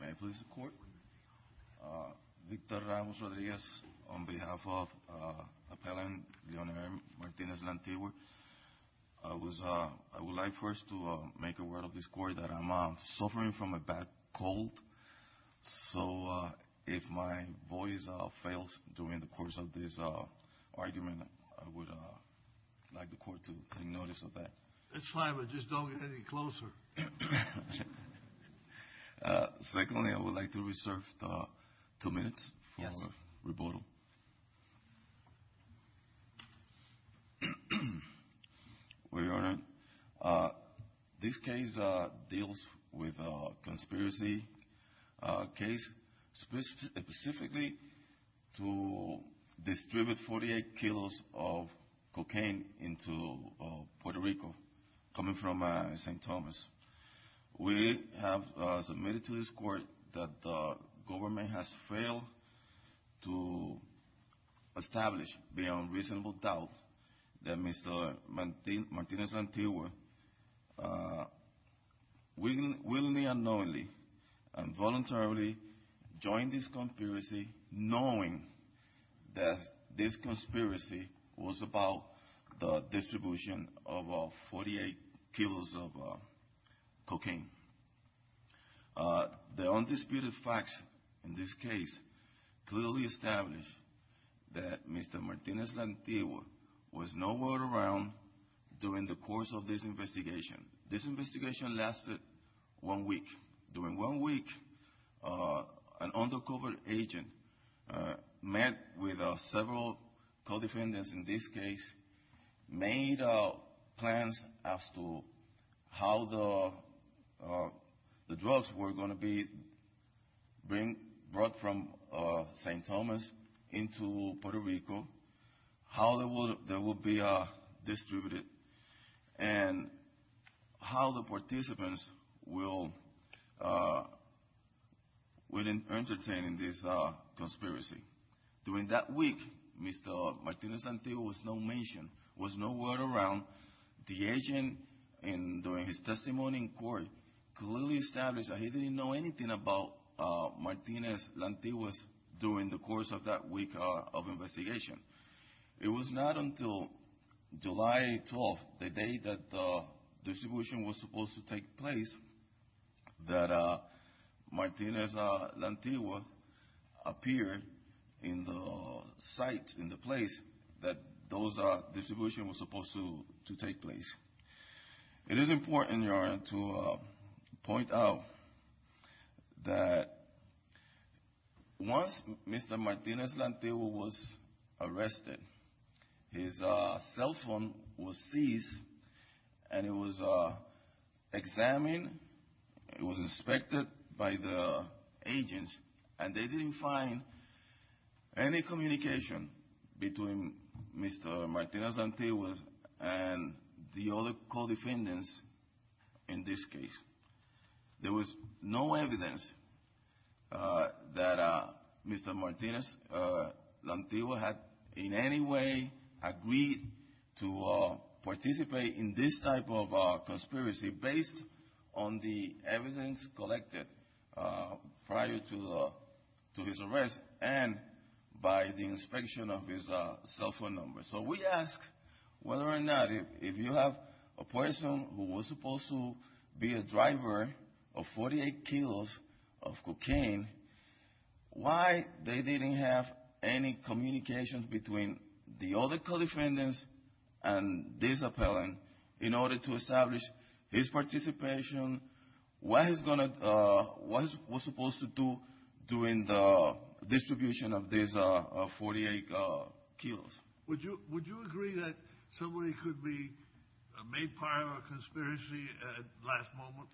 May I please the court? I would like first to make a word of this court that I'm suffering from a bad cold so if my voice fails during the course of this argument I would like the court to take notice of that. That's fine but just don't get any closer. Secondly I would like to reserve two minutes for rebuttal. Your Honor, this case deals with a conspiracy case specifically to distribute 48 kilos of cocaine into Puerto Rico coming from St. Thomas. We have submitted to this court that the government has failed to establish beyond reasonable doubt that Mr. Martinez-Lantigua willingly or unknowingly and voluntarily joined this conspiracy knowing that this conspiracy was about the distribution of 48 kilos of cocaine. The undisputed facts in this case clearly establish that Mr. Martinez-Lantigua was nowhere around during the course of this investigation. This investigation lasted one week. During one week an undercover agent met with several co-defendants in this case, made plans as to how the drugs were going to be brought from St. Thomas into Puerto Rico, how they would be distributed and how the participants would entertain this conspiracy. During that week Mr. Martinez-Lantigua was not mentioned, was nowhere around. The agent during his testimony in court clearly established that he didn't know anything about Mr. Martinez-Lantigua during the course of that week of investigation. It was not until July 12th, the day that the distribution was supposed to take place, that Martinez-Lantigua appeared in the site, in the place that those distribution was supposed to take place. It is important, Your Honor, to point out that once Mr. Martinez-Lantigua was arrested, his cell phone was seized and it was examined, it was inspected by the agents and they didn't find any communication between Mr. Martinez-Lantigua and the other co-defendants in this case. There was no evidence that Mr. Martinez-Lantigua had in any way agreed to participate in this type of conspiracy based on the evidence collected prior to his arrest and by the inspection of his cell phone number. So we ask whether or not if you have a person who was supposed to be a driver of 48 kilos of cocaine, why they didn't have any communication between the other co-defendants and this appellant in order to establish his participation? What was he supposed to do during the distribution of these 48 kilos? Would you agree that somebody could be made part of a conspiracy at last moment?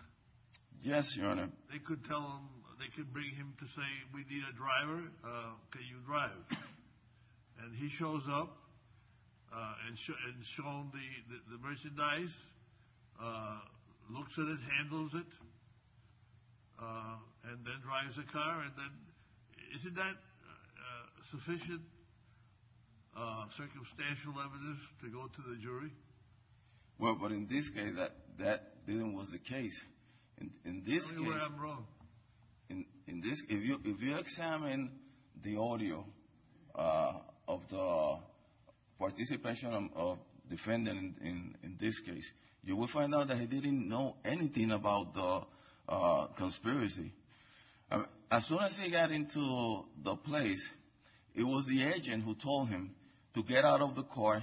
Yes, Your Honor. They could tell him, they could bring him to say, we need a driver, can you drive? And he shows up and shown the merchandise, looks at it, handles it, and then drives the car. Isn't that sufficient circumstantial evidence to go to the jury? Well, but in this case, that didn't was the case. Tell me where I'm wrong. In this, if you examine the audio of the participation of defendant in this case, you will find out that he didn't know anything about the conspiracy. As soon as he got into the place, it was the agent who told him to get out of the car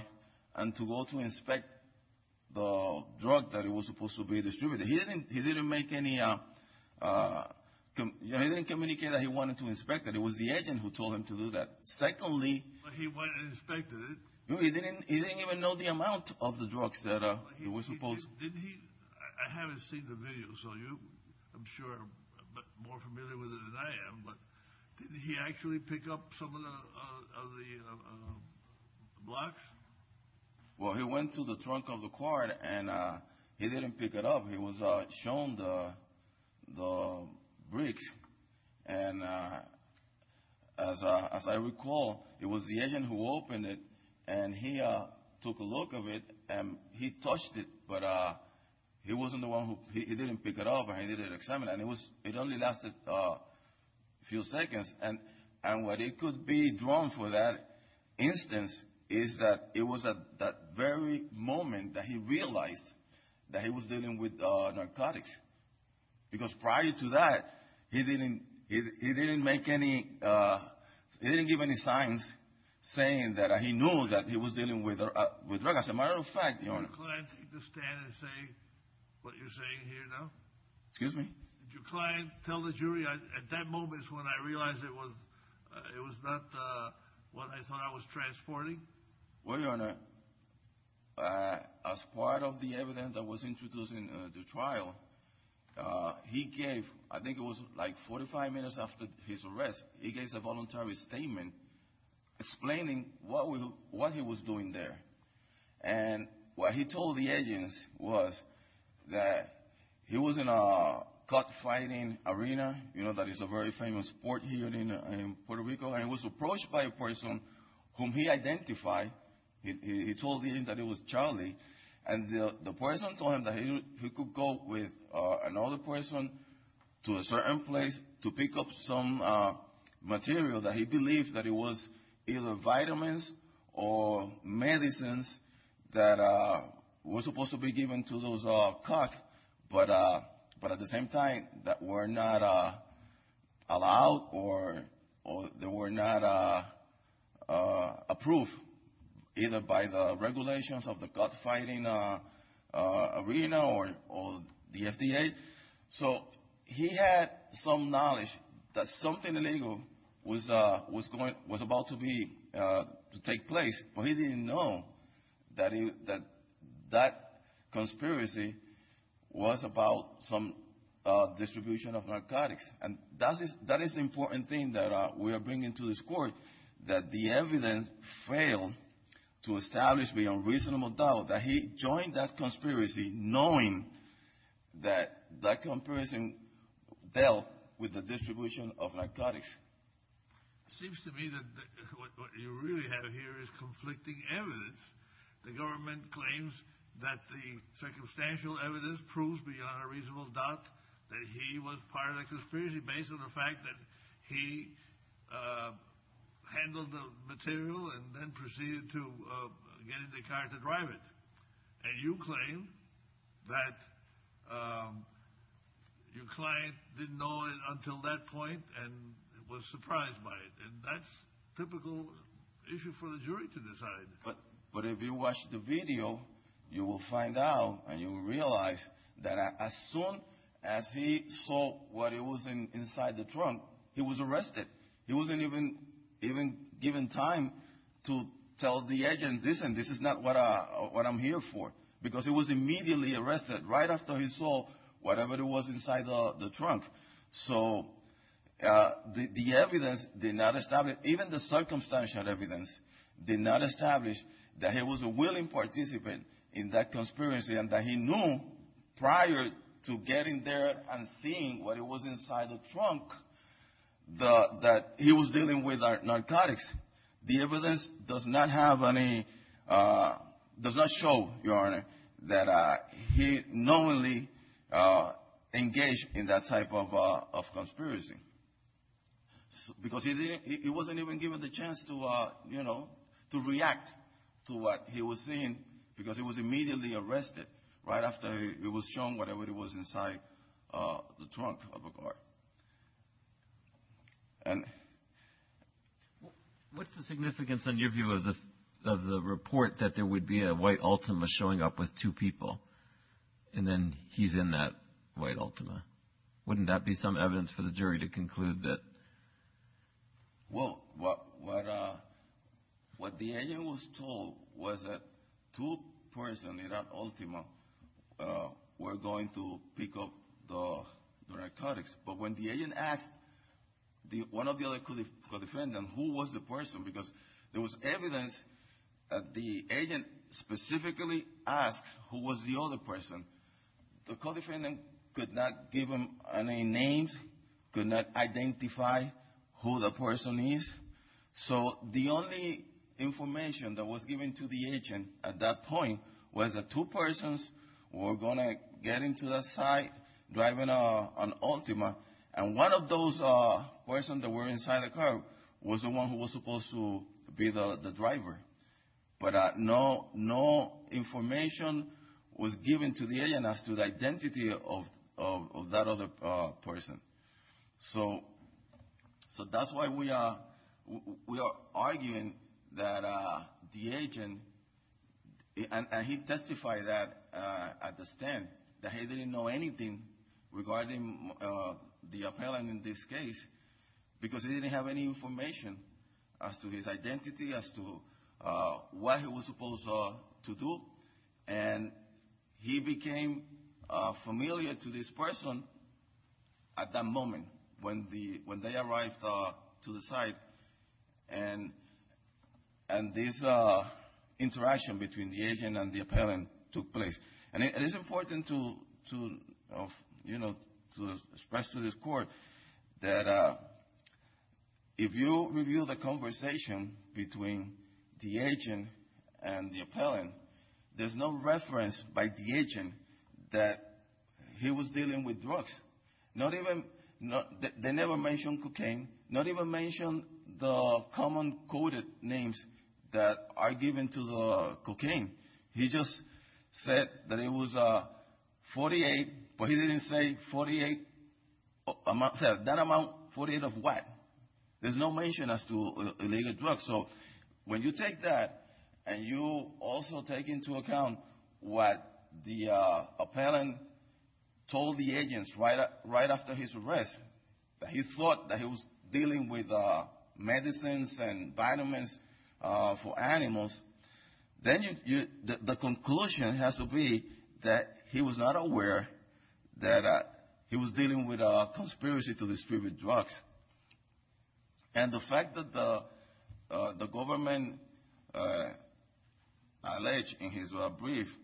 and to go to inspect the drug that was supposed to be distributed. He didn't make any, he didn't communicate that he wanted to inspect it. It was the agent who told him to do that. Secondly. But he went and inspected it. He didn't even know the amount of the drugs that were supposed. Didn't he, I haven't seen the video, so you I'm sure are more familiar with it than I am, but did he actually pick up some of the blocks? Well, he went to the trunk of the car, and he didn't pick it up. He was shown the bricks. And as I recall, it was the agent who opened it, and he took a look of it, and he touched it. But he wasn't the one who, he didn't pick it up, and he didn't examine it. And it only lasted a few seconds. And what it could be drawn for that instance is that it was at that very moment that he realized that he was dealing with narcotics. Because prior to that, he didn't make any, he didn't give any signs saying that he knew that he was dealing with drugs. As a matter of fact, Your Honor. Would your client take the stand and say what you're saying here now? Excuse me? Did your client tell the jury at that moment when I realized it was not what I thought I was transporting? Well, Your Honor, as part of the evidence that was introduced in the trial, he gave, I think it was like 45 minutes after his arrest, he gave a voluntary statement explaining what he was doing there. And what he told the agents was that he was in a gut fighting arena, you know, that is a very famous sport here in Puerto Rico. And he was approached by a person whom he identified. He told the agent that it was Charlie. And the person told him that he could go with another person to a certain place to pick up some material that he believed that it was either vitamins or medicines that were supposed to be given to those caught. But at the same time, that were not allowed or they were not approved either by the regulations of the gut fighting arena or the FDA. So he had some knowledge that something illegal was about to take place. But he didn't know that that conspiracy was about some distribution of narcotics. And that is the important thing that we are bringing to this court, that the evidence failed to establish beyond reasonable doubt that he joined that conspiracy knowing that that conspiracy dealt with the distribution of narcotics. It seems to me that what you really have here is conflicting evidence. The government claims that the circumstantial evidence proves beyond a reasonable doubt that he was part of the conspiracy based on the fact that he handled the material and then proceeded to get in the car to drive it. And you claim that your client didn't know it until that point and was surprised by it. And that's a typical issue for the jury to decide. But if you watch the video, you will find out and you will realize that as soon as he saw what was inside the trunk, he was arrested. He wasn't even given time to tell the agent, listen, this is not what I'm here for. Because he was immediately arrested right after he saw whatever was inside the trunk. So the evidence did not establish, even the circumstantial evidence did not establish that he was a willing participant in that conspiracy and that he knew prior to getting there and seeing what was inside the trunk that he was dealing with narcotics. The evidence does not have any – does not show, Your Honor, that he knowingly engaged in that type of conspiracy. Because he didn't – he wasn't even given the chance to, you know, to react to what he was seeing because he was immediately arrested right after it was shown whatever was inside the trunk of a car. And – What's the significance in your view of the report that there would be a white Ultima showing up with two people and then he's in that white Ultima? Wouldn't that be some evidence for the jury to conclude that – Well, what the agent was told was that two persons in that Ultima were going to pick up the narcotics. But when the agent asked one of the other co-defendants who was the person, because there was evidence that the agent specifically asked who was the other person, the co-defendant could not give him any names, could not identify who the person is. So the only information that was given to the agent at that point was that two persons were going to get into the site driving an Ultima. And one of those persons that were inside the car was the one who was supposed to be the driver. But no information was given to the agent as to the identity of that other person. So that's why we are arguing that the agent – and he testified that at the stand that he didn't know anything regarding the appellant in this case because he didn't have any information as to his identity, as to what he was supposed to do. And he became familiar to this person at that moment when they arrived to the site and this interaction between the agent and the appellant took place. And it is important to, you know, to express to this Court that if you review the conversation between the agent and the appellant, there's no reference by the agent that he was dealing with drugs. Not even – they never mentioned cocaine, not even mention the common coded names that are given to the cocaine. He just said that it was 48, but he didn't say 48 – that amount, 48 of what? There's no mention as to illegal drugs. So when you take that and you also take into account what the appellant told the agents right after his arrest, that he thought that he was dealing with medicines and vitamins for animals, then the conclusion has to be that he was not aware that he was dealing with a conspiracy to distribute drugs. And the fact that the government alleged in his brief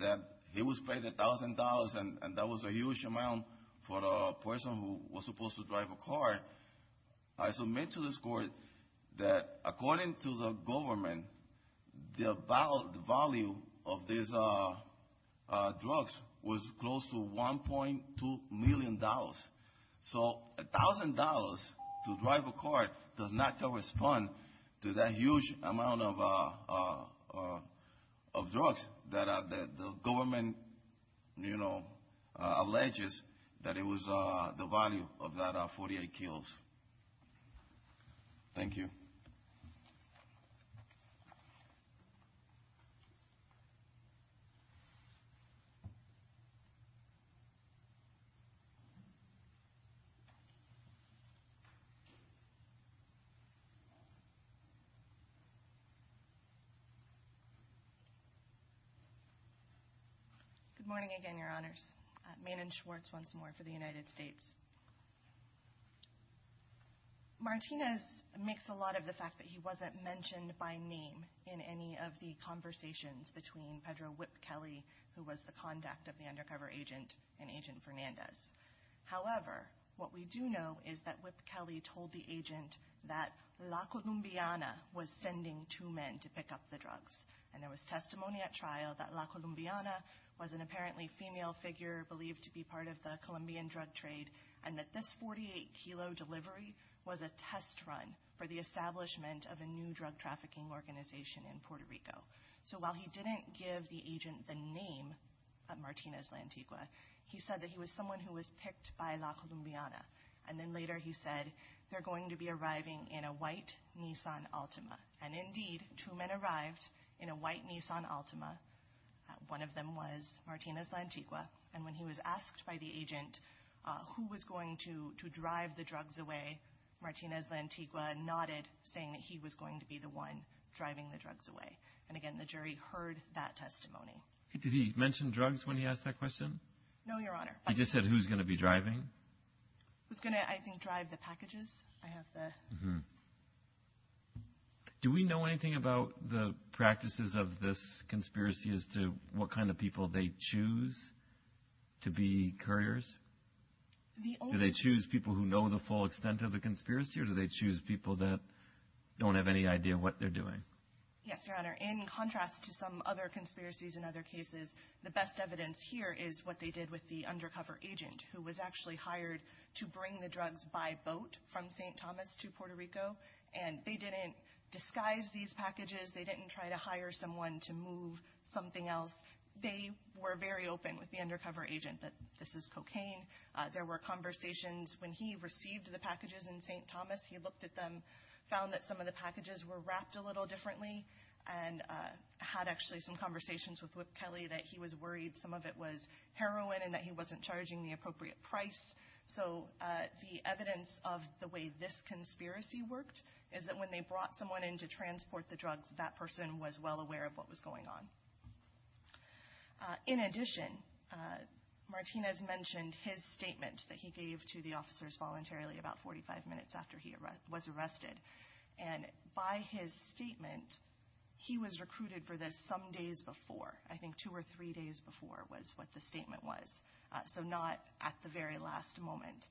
that he was paid $1,000 and that was a huge amount for a person who was supposed to drive a car, I submit to this Court that according to the government, the value of these drugs was close to $1.2 million. So $1,000 to drive a car does not correspond to that huge amount of drugs that the government, you know, alleges that it was the value of that 48 kills. Thank you. Good morning again, Your Honors. Maynard Schwartz once more for the United States. Martinez makes a lot of the fact that he wasn't mentioned by name in any of the conversations between Pedro Whip-Kelley, who was the contact of the undercover agent, and Agent Fernandez. However, what we do know is that Whip-Kelley told the agent that La Columbiana was sending two men to pick up the drugs, and there was testimony at trial that La Columbiana was an apparently female figure believed to be part of the Colombian drug trade, and that this 48-kilo delivery was a test run for the establishment of a new drug trafficking organization in Puerto Rico. So while he didn't give the agent the name of Martinez Lantigua, he said that he was someone who was picked by La Columbiana. And then later he said, they're going to be arriving in a white Nissan Altima. And indeed, two men arrived in a white Nissan Altima. One of them was Martinez Lantigua. And when he was asked by the agent who was going to drive the drugs away, Martinez Lantigua nodded, saying that he was going to be the one driving the drugs away. And again, the jury heard that testimony. Did he mention drugs when he asked that question? No, Your Honor. He just said who's going to be driving? Who's going to, I think, drive the packages. Do we know anything about the practices of this conspiracy as to what kind of people they choose to be couriers? Do they choose people who know the full extent of the conspiracy, or do they choose people that don't have any idea what they're doing? Yes, Your Honor. In contrast to some other conspiracies and other cases, the best evidence here is what they did with the undercover agent, who was actually hired to bring the drugs by boat from St. Thomas to Puerto Rico. And they didn't disguise these packages. They didn't try to hire someone to move something else. They were very open with the undercover agent that this is cocaine. There were conversations when he received the packages in St. Thomas. He looked at them, found that some of the packages were wrapped a little differently, and had actually some conversations with Whip Kelly that he was worried some of it was heroin and that he wasn't charging the appropriate price. So the evidence of the way this conspiracy worked is that when they brought someone in to transport the drugs, that person was well aware of what was going on. In addition, Martinez mentioned his statement that he gave to the officers voluntarily about 45 minutes after he was arrested. And by his statement, he was recruited for this some days before. I think two or three days before was what the statement was, so not at the very last moment.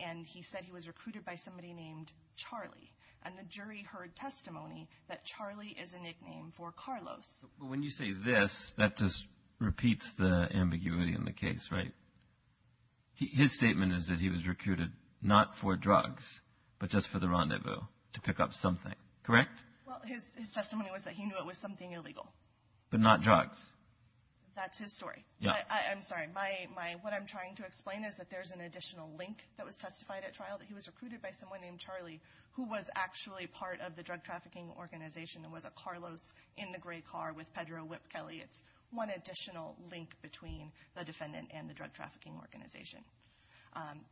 And he said he was recruited by somebody named Charlie. And the jury heard testimony that Charlie is a nickname for Carlos. When you say this, that just repeats the ambiguity in the case, right? His statement is that he was recruited not for drugs but just for the rendezvous to pick up something. Correct? Well, his testimony was that he knew it was something illegal. But not drugs. That's his story. Yeah. I'm sorry. What I'm trying to explain is that there's an additional link that was testified at trial, that he was recruited by someone named Charlie who was actually part of the drug trafficking organization and was a Carlos in the gray car with Pedro Whip Kelly. It's one additional link between the defendant and the drug trafficking organization.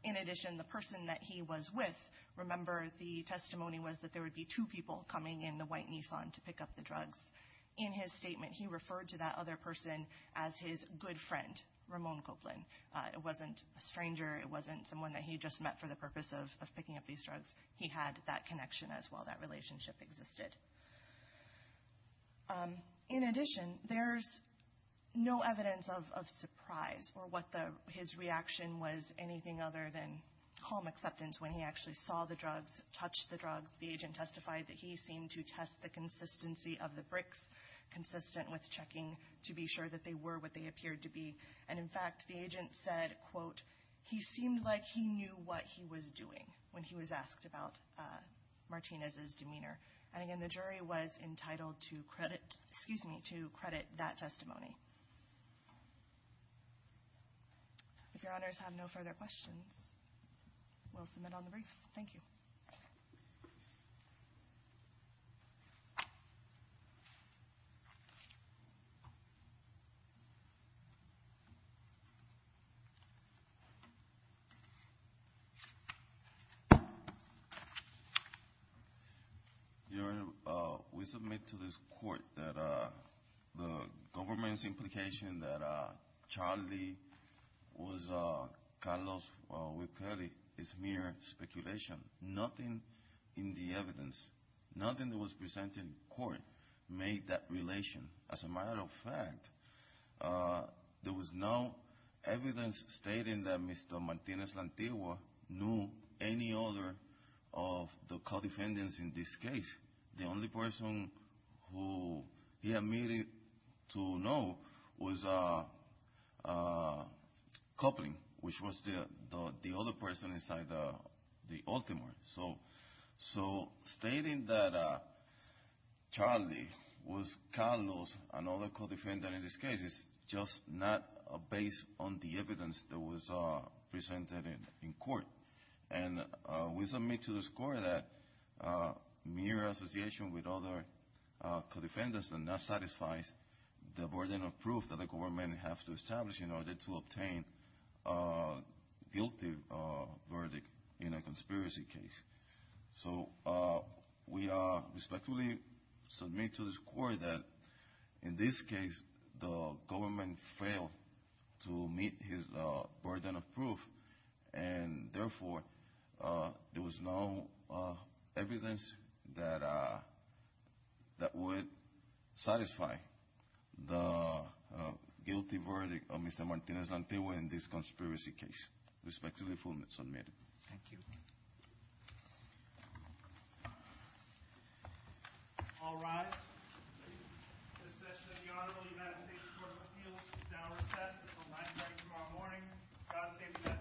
In addition, the person that he was with, remember, the testimony was that there would be two people coming in the white Nissan to pick up the drugs. In his statement, he referred to that other person as his good friend, Ramon Copeland. It wasn't a stranger. It wasn't someone that he just met for the purpose of picking up these drugs. He had that connection as well. That relationship existed. In addition, there's no evidence of surprise or what his reaction was anything other than calm acceptance when he actually saw the drugs, touched the drugs. The agent testified that he seemed to test the consistency of the bricks, consistent with checking to be sure that they were what they appeared to be. And, in fact, the agent said, quote, he seemed like he knew what he was doing when he was asked about Martinez's demeanor. And, again, the jury was entitled to credit that testimony. If Your Honors have no further questions, we'll submit on the briefs. Thank you. Your Honor, we submit to this court that the government's implication that Charlie was Carlos with Kelly is mere speculation. Nothing in the evidence, nothing that was presented in court made that relation. As a matter of fact, there was no evidence stating that Mr. Martinez Lantewa knew any other of the co-defendants in this case. The only person who he admitted to know was Coupling, which was the other person inside the Ultimo. So stating that Charlie was Carlos, another co-defendant in this case, is just not based on the evidence that was presented in court. And we submit to this court that mere association with other co-defendants does not satisfy the burden of proof that the government has to establish in order to obtain a guilty verdict in a conspiracy case. So we respectfully submit to this court that in this case the government failed to meet his burden of proof, and therefore there was no evidence that would satisfy the guilty verdict of Mr. Martinez Lantewa in this conspiracy case. Respectfully, the form is submitted. Thank you. All rise. The session of the Honorable United States Court of Appeals is now recessed. At the last hearing tomorrow morning, God save the United States of America and this honorable court.